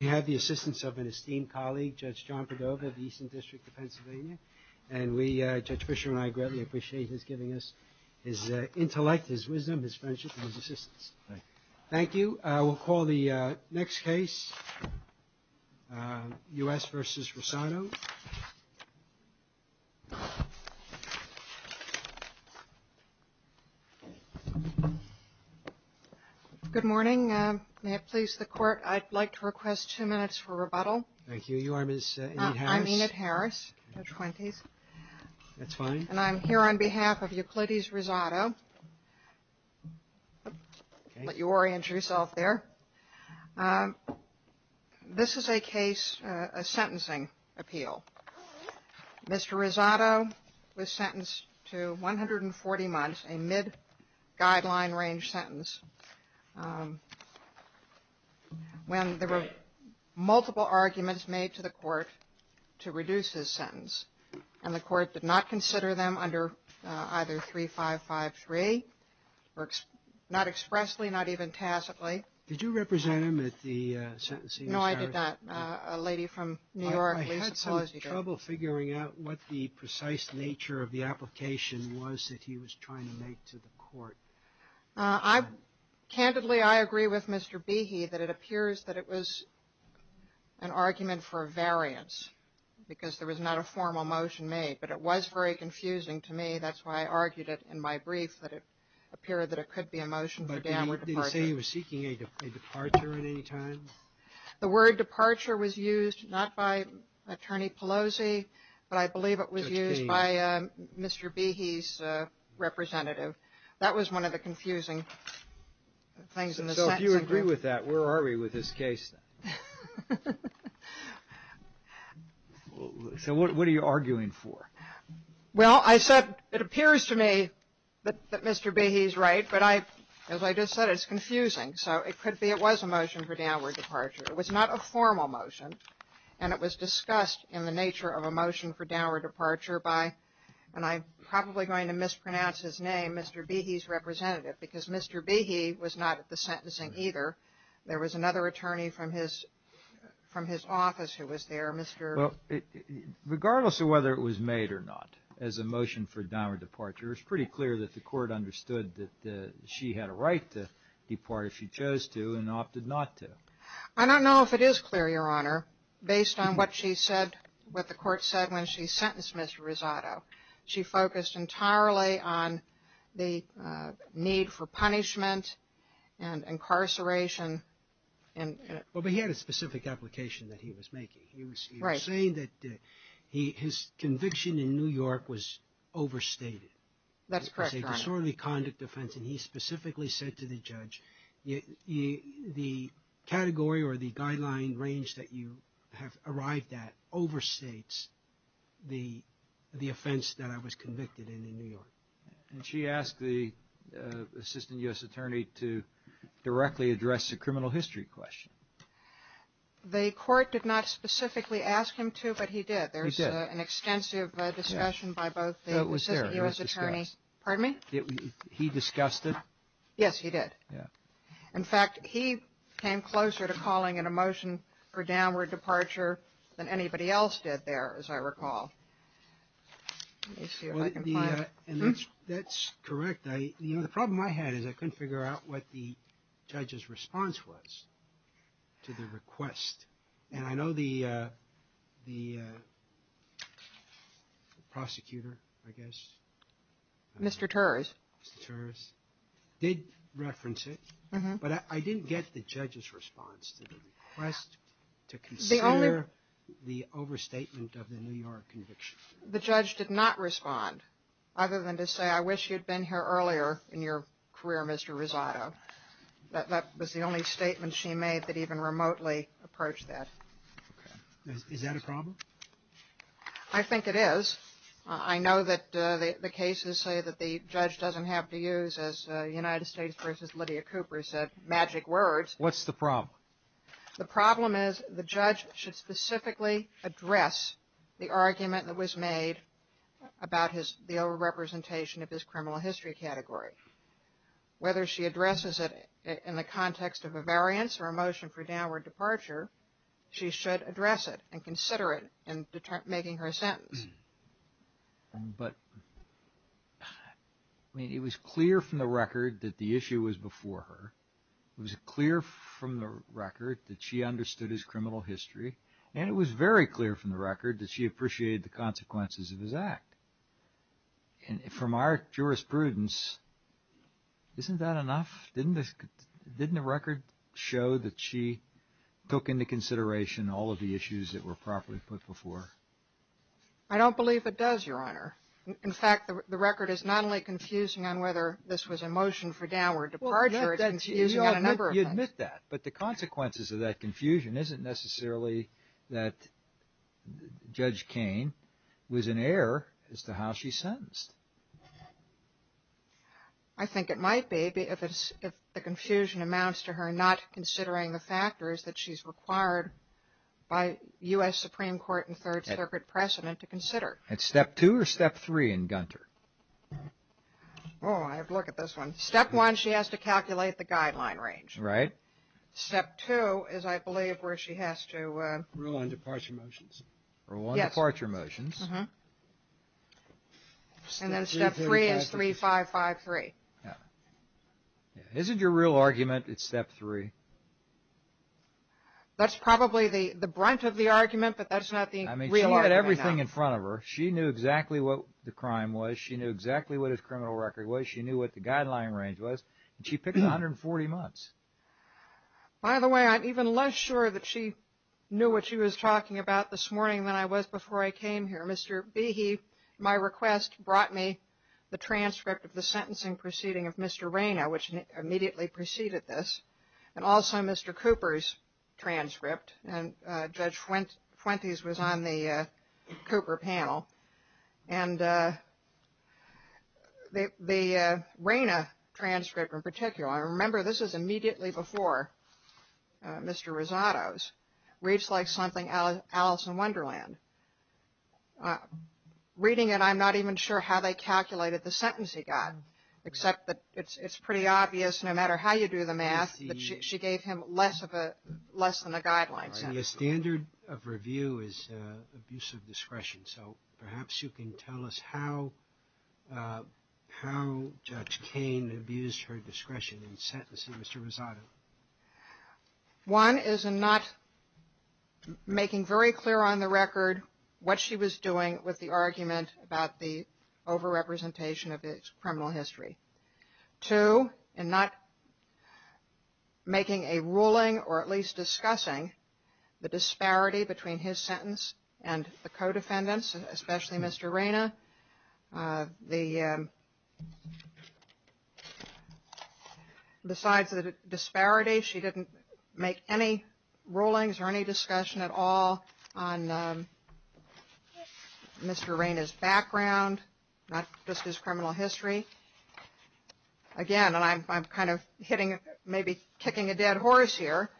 We have the assistance of an esteemed colleague, Judge John Padova of the Eastern District of Pennsylvania. And we, Judge Fischer and I, greatly appreciate his giving us his intellect, his wisdom, his friendship, and his assistance. Thank you. We'll call the next case, U.S. v. Rosado. Good morning. May it please the Court, I'd like to request two minutes for rebuttal. Thank you. You are Ms. Enid Harris? I'm Enid Harris, in her 20s. That's fine. And I'm here on behalf of Euclides Rosado. Let you orient yourself there. This is a case, a sentencing appeal. Mr. Rosado was sentenced to 140 months, a mid-guideline range sentence, when there were multiple arguments made to the Court to reduce his sentence. And the Court did not consider them under either 3553, not expressly, not even tacitly. Did you represent him at the sentencing? No, I did not. A lady from New York. I had some trouble figuring out what the precise nature of the application was that he was trying to make to the Court. Candidly, I agree with Mr. Behe that it appears that it was an argument for a variance, because there was not a formal motion made. But it was very confusing to me. That's why I argued it in my brief, that it appeared that it could be a motion for damages. Did he say he was seeking a departure at any time? The word departure was used not by Attorney Pelosi, but I believe it was used by Mr. Behe's representative. That was one of the confusing things in the sentencing group. So if you agree with that, where are we with this case? So what are you arguing for? Well, I said it appears to me that Mr. Behe's right, but as I just said, it's confusing. So it could be it was a motion for downward departure. It was not a formal motion, and it was discussed in the nature of a motion for downward departure by, and I'm probably going to mispronounce his name, Mr. Behe's representative, because Mr. Behe was not at the sentencing either. There was another attorney from his office who was there. Regardless of whether it was made or not as a motion for downward departure, it was pretty clear that the court understood that she had a right to depart if she chose to and opted not to. I don't know if it is clear, Your Honor, based on what the court said when she sentenced Mr. Rosado. She focused entirely on the need for punishment and incarceration. Well, but he had a specific application that he was making. He was saying that his conviction in New York was overstated. That's correct, Your Honor. It was a disorderly conduct offense, and he specifically said to the judge, the category or the guideline range that you have arrived at overstates the offense that I was convicted in in New York. And she asked the assistant U.S. attorney to directly address the criminal history question. The court did not specifically ask him to, but he did. He did. There was an extensive discussion by both the assistant U.S. attorney. It was there. Pardon me? He discussed it? Yes, he did. Yeah. In fact, he came closer to calling it a motion for downward departure than anybody else did there, as I recall. That's correct. You know, the problem I had is I couldn't figure out what the judge's response was to the request. And I know the prosecutor, I guess. Mr. Turs. Mr. Turs did reference it, but I didn't get the judge's response to the request to consider the overstatement of the New York conviction. The judge did not respond other than to say, I wish you'd been here earlier in your career, Mr. Rosado. That was the only statement she made that even remotely approached that. Is that a problem? I think it is. I know that the cases say that the judge doesn't have to use, as United States versus Lydia Cooper said, magic words. What's the problem? The problem is the judge should specifically address the argument that was made about the overrepresentation of his criminal history category. Whether she addresses it in the context of a variance or a motion for downward departure, she should address it and consider it in making her sentence. But it was clear from the record that the issue was before her. It was clear from the record that she understood his criminal history. And it was very clear from the record that she appreciated the consequences of his act. And from our jurisprudence, isn't that enough? Didn't the record show that she took into consideration all of the issues that were properly put before? I don't believe it does, Your Honor. In fact, the record is not only confusing on whether this was a motion for downward departure. It's confusing on a number of things. You admit that. But the consequences of that confusion isn't necessarily that Judge Kane was in error as to how she sentenced. I think it might be if the confusion amounts to her not considering the factors that she's required by U.S. Supreme Court and Third Circuit precedent to consider. That's step two or step three in Gunter? Oh, I have to look at this one. Step one, she has to calculate the guideline range. Right. Step two is, I believe, where she has to... Rule on departure motions. Rule on departure motions. And then step three is 3553. Yeah. Isn't your real argument it's step three? That's probably the brunt of the argument, but that's not the real argument. I mean, she had everything in front of her. She knew exactly what the crime was. She knew exactly what his criminal record was. She knew what the guideline range was. And she picked 140 months. By the way, I'm even less sure that she knew what she was talking about this morning than I was before I came here. Mr. Behe, my request brought me the transcript of the sentencing proceeding of Mr. Rayna, which immediately preceded this, and also Mr. Cooper's transcript. And Judge Fuentes was on the Cooper panel. And the Rayna transcript in particular, I remember this was immediately before Mr. Rosado's, reads like something Alice in Wonderland. Reading it, I'm not even sure how they calculated the sentence he got, except that it's pretty obvious no matter how you do the math that she gave him less than a guideline sentence. The standard of review is abuse of discretion. So perhaps you can tell us how Judge Cain abused her discretion in sentencing Mr. Rosado. One is in not making very clear on the record what she was doing with the argument about the over-representation of his criminal history. Two, in not making a ruling or at least discussing the disparity between his sentence and the co-defendants, especially Mr. Rayna. Besides the disparity, she didn't make any rulings or any discussion at all on Mr. Rayna's background, not just his criminal history. Again, and I'm kind of hitting, maybe kicking a dead horse here,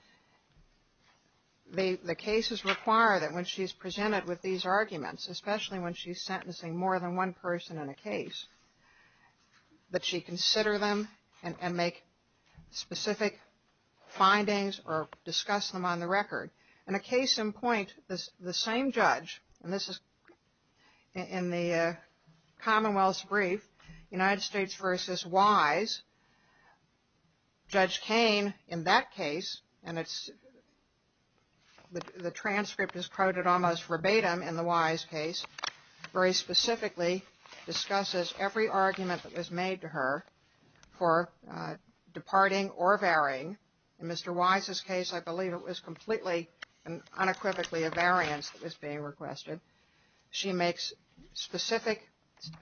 the cases require that when she's presented with these arguments, especially when she's sentencing more than one person in a case, that she consider them and make specific findings or discuss them on the record. In a case in point, the same judge, and this is in the Commonwealth's brief, United States v. Wise, Judge Cain in that case, and the transcript is quoted almost verbatim in the Wise case, very specifically discusses every argument that was made to her for departing or varying. In Mr. Wise's case, I believe it was completely and unequivocally a variance that was being requested. She makes specific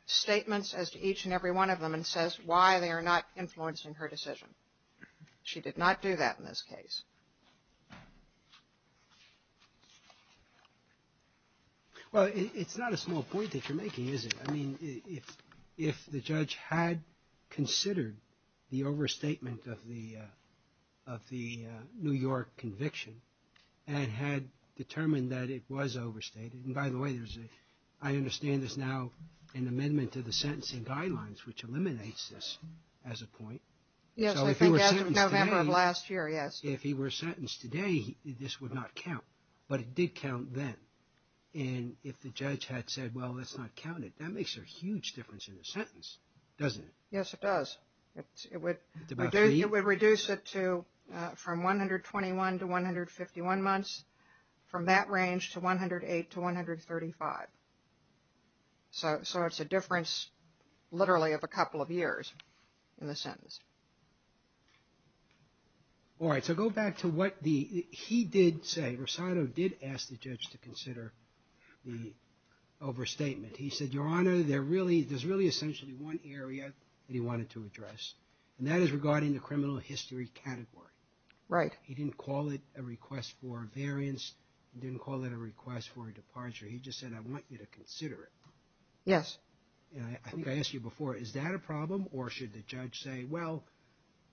statements as to each and every one of them and says why they are not influencing her decision. She did not do that in this case. Well, it's not a small point that you're making, is it? I mean, if the judge had considered the overstatement of the New York conviction and had determined that it was overstated, and by the way, I understand there's now an amendment to the sentencing guidelines, which eliminates this as a point. Yes, I think as of November of last year, yes. If he were sentenced today, this would not count, but it did count then. And if the judge had said, well, let's not count it, that makes a huge difference in the sentence, doesn't it? Yes, it does. It would reduce it from 121 to 151 months, from that range to 108 to 135. So it's a difference literally of a couple of years in the sentence. All right, so go back to what he did say. Rosado did ask the judge to consider the overstatement. He said, Your Honor, there's really essentially one area that he wanted to address, and that is regarding the criminal history category. Right. He didn't call it a request for a variance. He didn't call it a request for a departure. He just said, I want you to consider it. Yes. I think I asked you before, is that a problem, or should the judge say, well,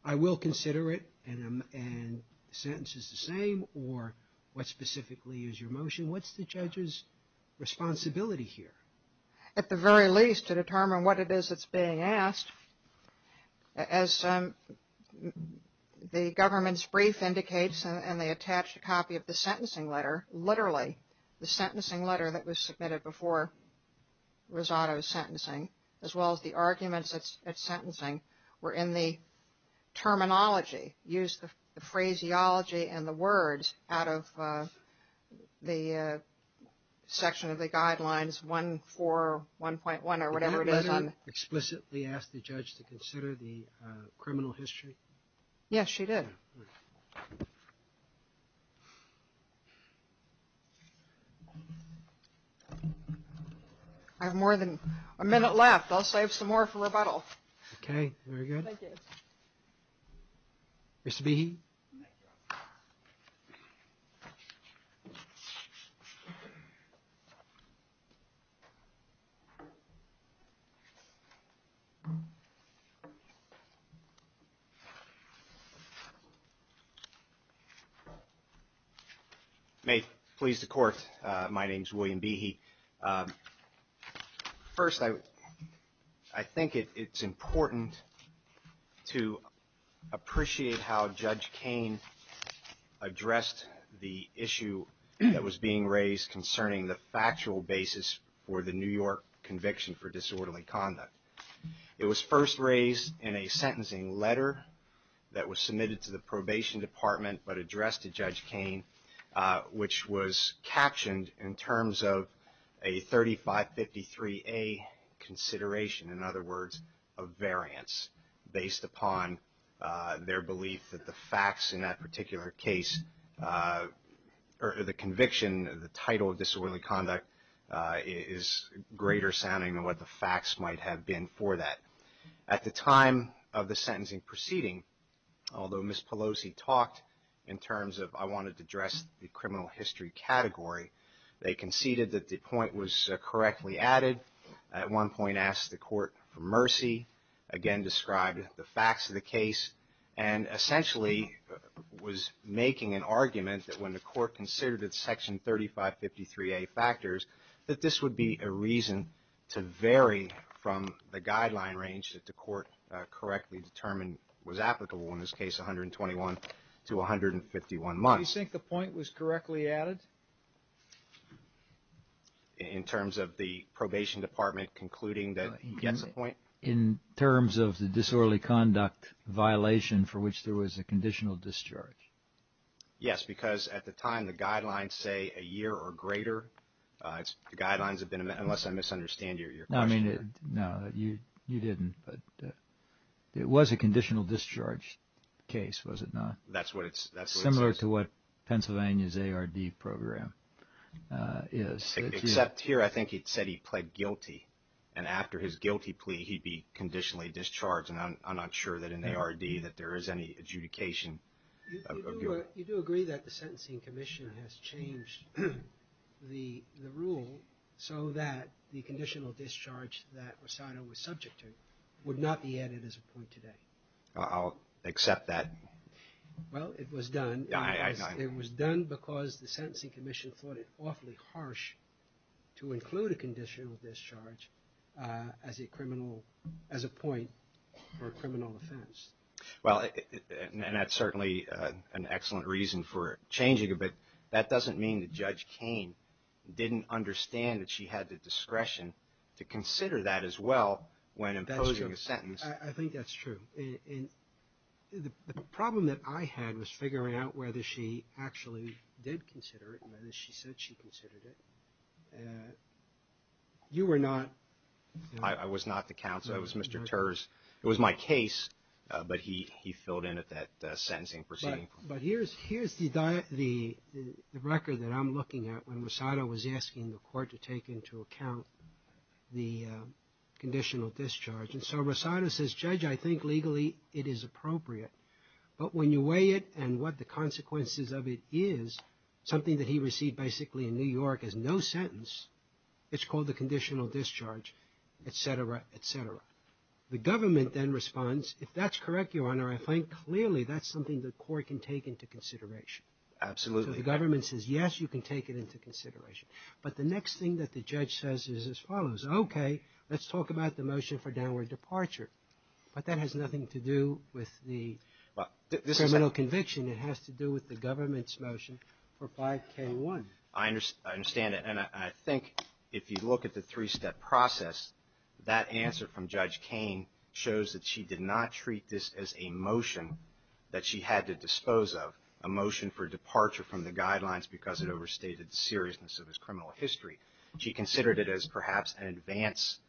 I will consider it, and the sentence is the same, or what specifically is your motion? What's the judge's responsibility here? At the very least, to determine what it is that's being asked, as the government's brief indicates in the attached copy of the sentencing letter, literally the sentencing letter that was submitted before Rosado's sentencing, as well as the arguments at sentencing were in the terminology, used the phraseology and the words out of the section of the guidelines 141.1 or whatever it is. Did the judge explicitly ask the judge to consider the criminal history? Yes, she did. I have more than a minute left. I'll save some more for rebuttal. Okay. Very good. Thank you. Mr. Behe. Thank you. May it please the Court, my name is William Behe. First, I think it's important to appreciate how Judge Kain addressed the issue that was being raised concerning the factual basis for the New York conviction for disorderly conduct. It was first raised in a sentencing letter that was submitted to the Probation Department, but addressed to Judge Kain, which was captioned in terms of a 3553A consideration, in other words, a variance based upon their belief that the facts in that particular case, or the conviction, the title of disorderly conduct, is greater sounding than what the facts might have been for that. At the time of the sentencing proceeding, although Ms. Pelosi talked in terms of, I wanted to address the criminal history category, they conceded that the point was correctly added. At one point asked the Court for mercy, again described the facts of the case, and essentially was making an argument that when the Court considered its section 3553A factors, that this would be a reason to vary from the guideline range that the Court correctly determined was applicable in this case, 121 to 151 months. Do you think the point was correctly added? In terms of the Probation Department concluding that it gets a point? In terms of the disorderly conduct violation for which there was a conditional discharge. Yes, because at the time the guidelines say a year or greater. The guidelines have been, unless I misunderstand your question. No, you didn't. It was a conditional discharge case, was it not? That's what it says. Similar to what Pennsylvania's ARD program is. Except here, I think it said he pled guilty. And after his guilty plea, he'd be conditionally discharged. And I'm not sure that in the ARD that there is any adjudication of guilt. You do agree that the Sentencing Commission has changed the rule so that the conditional discharge that Rosado was subject to would not be added as a point today? I'll accept that. Well, it was done. It was done because the Sentencing Commission thought it awfully harsh to include a conditional discharge as a point for a criminal offense. Well, and that's certainly an excellent reason for changing it. But that doesn't mean that Judge Kain didn't understand that she had the discretion to consider that as well when imposing a sentence. I think that's true. And the problem that I had was figuring out whether she actually did consider it and whether she said she considered it. You were not. I was not the counsel. I was Mr. Terz. It was my case, but he filled in at that sentencing proceeding point. But here's the record that I'm looking at when Rosado was asking the court to take into account the conditional discharge. And so Rosado says, Judge, I think legally it is appropriate. But when you weigh it and what the consequences of it is, something that he received basically in New York as no sentence, it's called the conditional discharge, et cetera, et cetera. The government then responds, if that's correct, Your Honor, I think clearly that's something the court can take into consideration. Absolutely. So the government says, yes, you can take it into consideration. But the next thing that the judge says is as follows. Okay, let's talk about the motion for downward departure. But that has nothing to do with the criminal conviction. It has to do with the government's motion for 5K1. I understand that. And I think if you look at the three-step process, that answer from Judge Kain shows that she did not treat this as a motion that she had to dispose of, a motion for departure from the guidelines because it overstated the seriousness of his criminal history. She considered it as perhaps an advance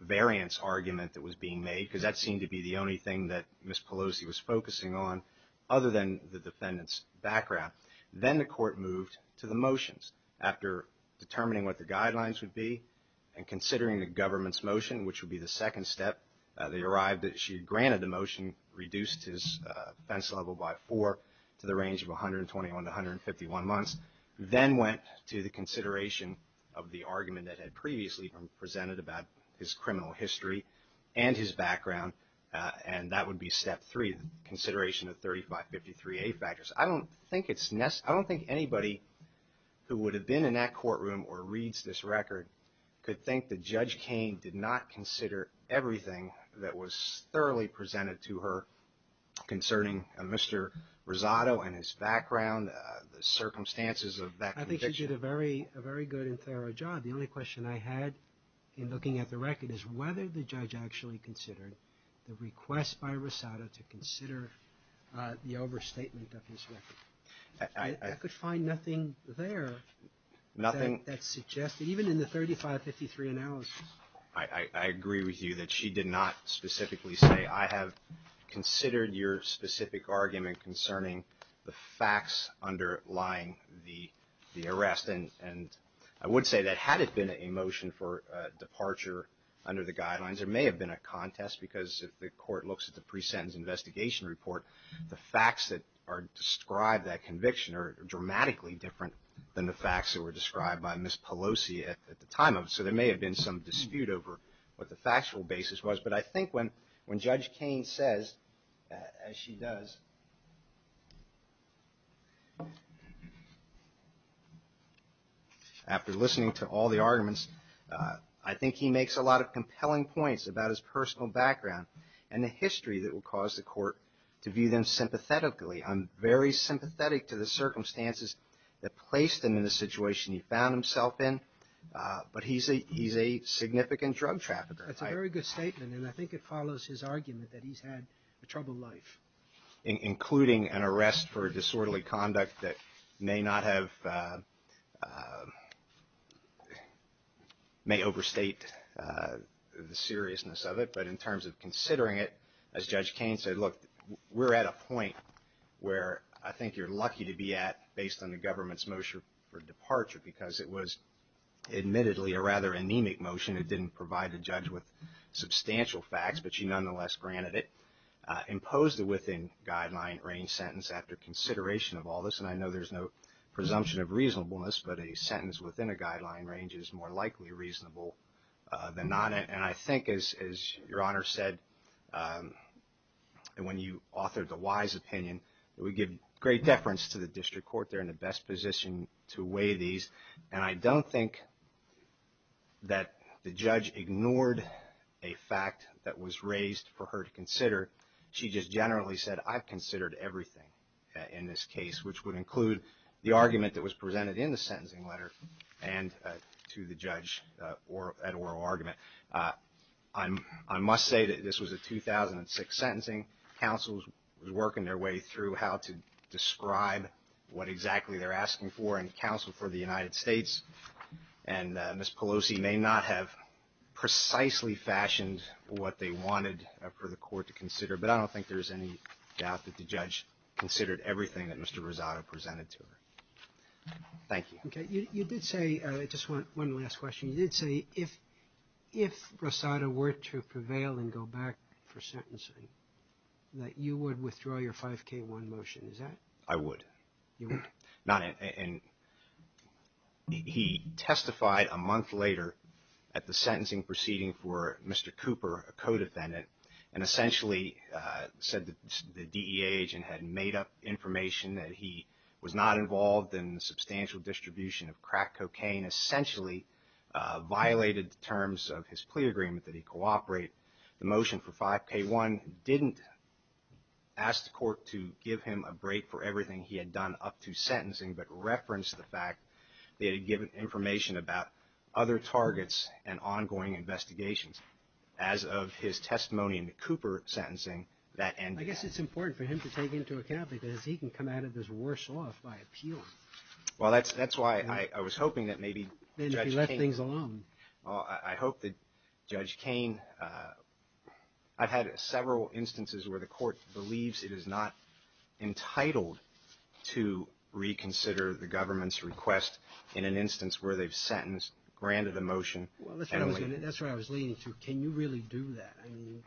variance argument that was being made, because that seemed to be the only thing that Ms. Pelosi was focusing on other than the defendant's background. Then the court moved to the motions. After determining what the guidelines would be and considering the government's motion, which would be the second step, they arrived that she had granted the motion, reduced his offense level by four to the range of 121 to 151 months, then went to the consideration of the argument that had previously been presented about his criminal history and his background, and that would be step three, consideration of 3553A factors. I don't think anybody who would have been in that courtroom or reads this record could think that Judge Kain did not consider everything that was thoroughly presented to her concerning Mr. Rosado and his background, the circumstances of that conviction. I think she did a very good and thorough job. The only question I had in looking at the record is whether the judge actually considered the request by Rosado to consider the overstatement of his record. I could find nothing there that suggested, even in the 3553 analysis. I agree with you that she did not specifically say, I have considered your specific argument concerning the facts underlying the arrest. I would say that had it been a motion for departure under the guidelines, there may have been a contest because if the court looks at the pre-sentence investigation report, the facts that describe that conviction are dramatically different than the facts that were described by Ms. Pelosi at the time. So there may have been some dispute over what the factual basis was. But I think when Judge Kain says, as she does, after listening to all the arguments, I think he makes a lot of compelling points about his personal background and the history that will cause the court to view them sympathetically. I'm very sympathetic to the circumstances that placed him in the situation he found himself in, but he's a significant drug trafficker. That's a very good statement, and I think it follows his argument that he's had a troubled life. Including an arrest for disorderly conduct that may not have, may overstate the seriousness of it. But in terms of considering it, as Judge Kain said, look, we're at a point where I think you're lucky to be at, based on the government's motion for departure, because it was admittedly a rather anemic motion. It didn't provide a judge with substantial facts, but she nonetheless granted it. Imposed a within-guideline range sentence after consideration of all this, and I know there's no presumption of reasonableness, but a sentence within a guideline range is more likely reasonable than not. And I think, as Your Honor said, when you authored the Wise opinion, it would give great deference to the district court. They're in the best position to weigh these. And I don't think that the judge ignored a fact that was raised for her to consider. She just generally said, I've considered everything in this case, which would include the argument that was presented in the sentencing letter and to the judge at oral argument. I must say that this was a 2006 sentencing. Counsel was working their way through how to describe what exactly they're asking for, and counsel for the United States. And Ms. Pelosi may not have precisely fashioned what they wanted for the court to consider, but I don't think there's any doubt that the judge considered everything that Mr. Rosado presented to her. Thank you. Okay. You did say, just one last question. You did say if Rosado were to prevail and go back for sentencing, that you would withdraw your 5K1 motion, is that it? I would. You would? And he testified a month later at the sentencing proceeding for Mr. Cooper, a co-defendant, and essentially said that the DEA agent had made up information that he was not involved in the substantial distribution of crack cocaine, essentially violated the terms of his plea agreement that he cooperate. The motion for 5K1 didn't ask the court to give him a break for everything he had done up to sentencing, but referenced the fact that he had given information about other targets and ongoing investigations. As of his testimony in the Cooper sentencing, that ended. I guess it's important for him to take into account because he can come out of this worse off by appeal. Well, that's why I was hoping that maybe Judge Cain... Then if he left things alone. I hope that Judge Cain... I've had several instances where the court believes it is not entitled to reconsider the government's request in an instance where they've sentenced, granted a motion... Well, that's what I was leading to. Can you really do that? I mean,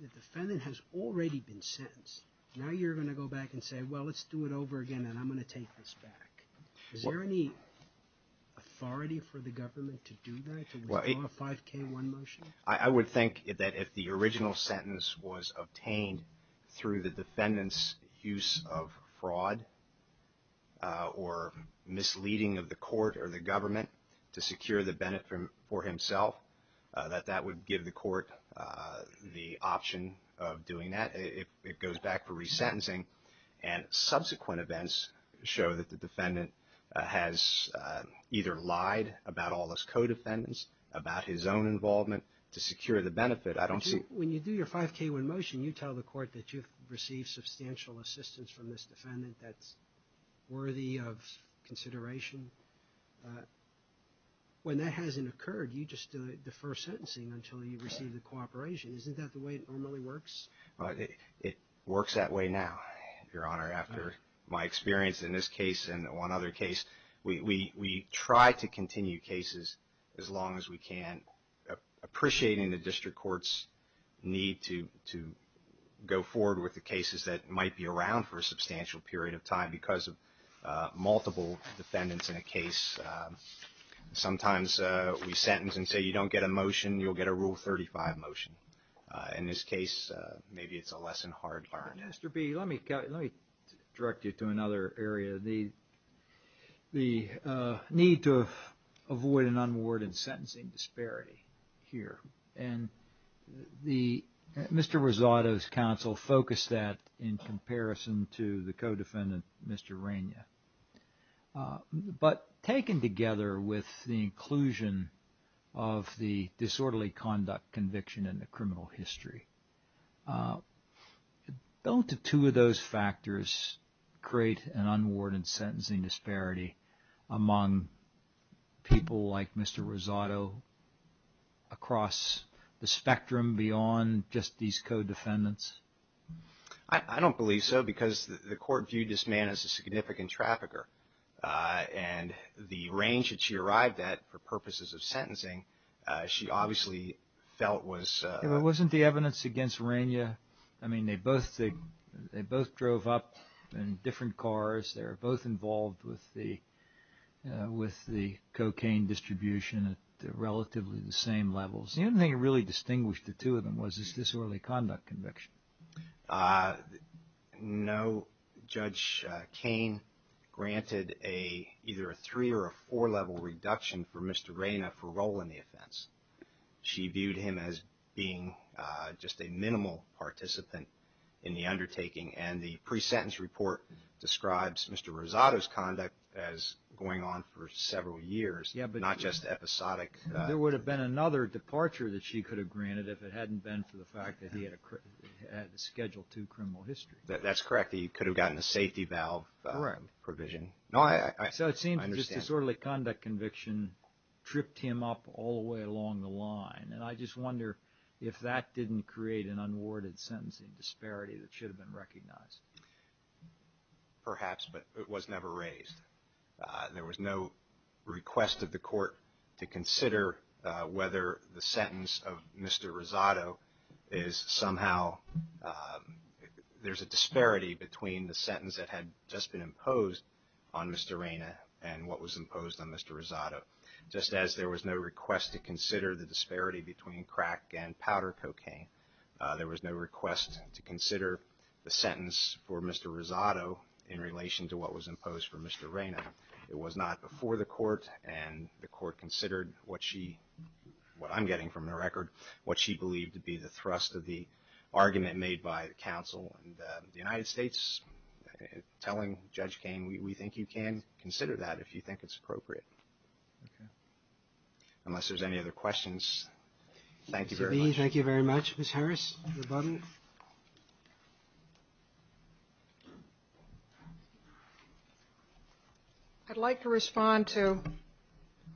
the defendant has already been sentenced. Now you're going to go back and say, well, let's do it over again and I'm going to take this back. Is there any authority for the government to do that, to withdraw a 5K1 motion? I would think that if the original sentence was obtained through the defendant's use of fraud or misleading of the court or the government to secure the benefit for himself, that that would give the court the option of doing that. It goes back for resentencing and subsequent events show that the defendant has either lied about all his co-defendants, about his own involvement to secure the benefit. I don't see... When you do your 5K1 motion, you tell the court that you've received substantial assistance from this defendant that's worthy of consideration. When that hasn't occurred, you just defer sentencing until you receive the cooperation. Isn't that the way it normally works? It works that way now, Your Honor, after my experience in this case and one other case. We try to continue cases as long as we can, appreciating the district court's need to go forward with the cases that might be around for a substantial period of time because of multiple defendants in a case. Sometimes we sentence and say you don't get a motion, you'll get a Rule 35 motion. In this case, maybe it's a lesson hard learned. Mr. B., let me direct you to another area. The need to avoid an unwarranted sentencing disparity here. Mr. Rosado's counsel focused that in comparison to the co-defendant, Mr. Rainier. But taken together with the inclusion of the disorderly conduct conviction in the criminal history, don't the two of those factors create an unwarranted sentencing disparity among people like Mr. Rosado across the spectrum beyond just these co-defendants? I don't believe so because the court viewed this man as a significant trafficker. And the range that she arrived at for purposes of sentencing, she obviously felt was... It wasn't the evidence against Rainier. I mean, they both drove up in different cars. They were both involved with the cocaine distribution at relatively the same levels. The only thing that really distinguished the two of them was this disorderly conduct conviction. No. Judge Cain granted either a three- or a four-level reduction for Mr. Rainier for role in the offense. She viewed him as being just a minimal participant in the undertaking. And the pre-sentence report describes Mr. Rosado's conduct as going on for several years, not just episodic. There would have been another departure that she could have granted if it hadn't been for the fact that he had a Schedule II criminal history. That's correct. He could have gotten a safety valve provision. So it seems just disorderly conduct conviction tripped him up all the way along the line. And I just wonder if that didn't create an unwarranted sentencing disparity that should have been recognized. Perhaps, but it was never raised. There was no request of the court to consider whether the sentence of Mr. Rosado is somehow – there's a disparity between the sentence that had just been imposed on Mr. Rainier and what was imposed on Mr. Rosado. Just as there was no request to consider the disparity between crack and powder cocaine, there was no request to consider the sentence for Mr. Rosado in relation to what was imposed for Mr. Rainier. It was not before the court, and the court considered what she – what I'm getting from the record – what she believed to be the thrust of the argument made by the counsel in the United States, telling Judge Kain, we think you can consider that if you think it's appropriate. Okay. Thank you very much. Thank you very much. Ms. Harris, your button. I'd like to respond to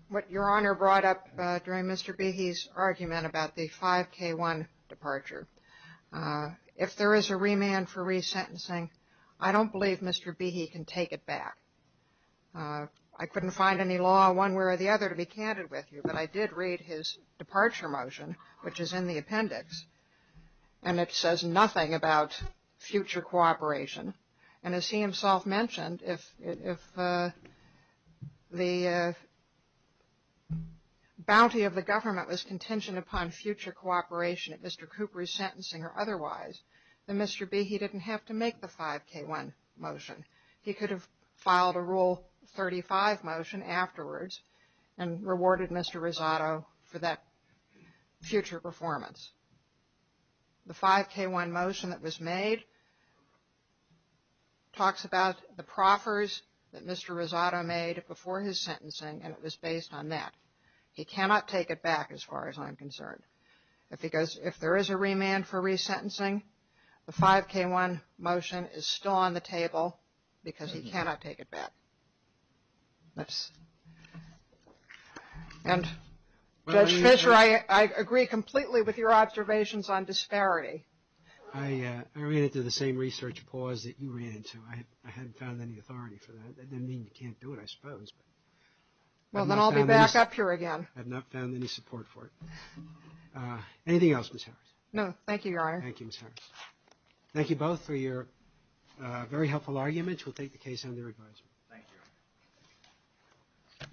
what Your Honor brought up during Mr. Behe's argument about the 5K1 departure. If there is a remand for resentencing, I don't believe Mr. Behe can take it back. I couldn't find any law one way or the other to be candid with you, but I did read his departure motion, which is in the appendix, and it says nothing about future cooperation. And as he himself mentioned, if the bounty of the government was contingent upon future cooperation at Mr. Cooper's sentencing or otherwise, then Mr. Behe didn't have to make the 5K1 motion. He could have filed a Rule 35 motion afterwards and rewarded Mr. Rosado for that future performance. The 5K1 motion that was made talks about the proffers that Mr. Rosado made before his sentencing, and it was based on that. He cannot take it back as far as I'm concerned. If there is a remand for resentencing, the 5K1 motion is still on the table because he cannot take it back. And Judge Fischer, I agree completely with your observations on disparity. I ran into the same research pause that you ran into. I hadn't found any authority for that. That didn't mean you can't do it, I suppose. Well, then I'll be back up here again. I have not found any support for it. Anything else, Ms. Harris? No, thank you, Your Honor. Thank you, Ms. Harris. Thank you both for your very helpful arguments. We'll take the case under advisement. Thank you.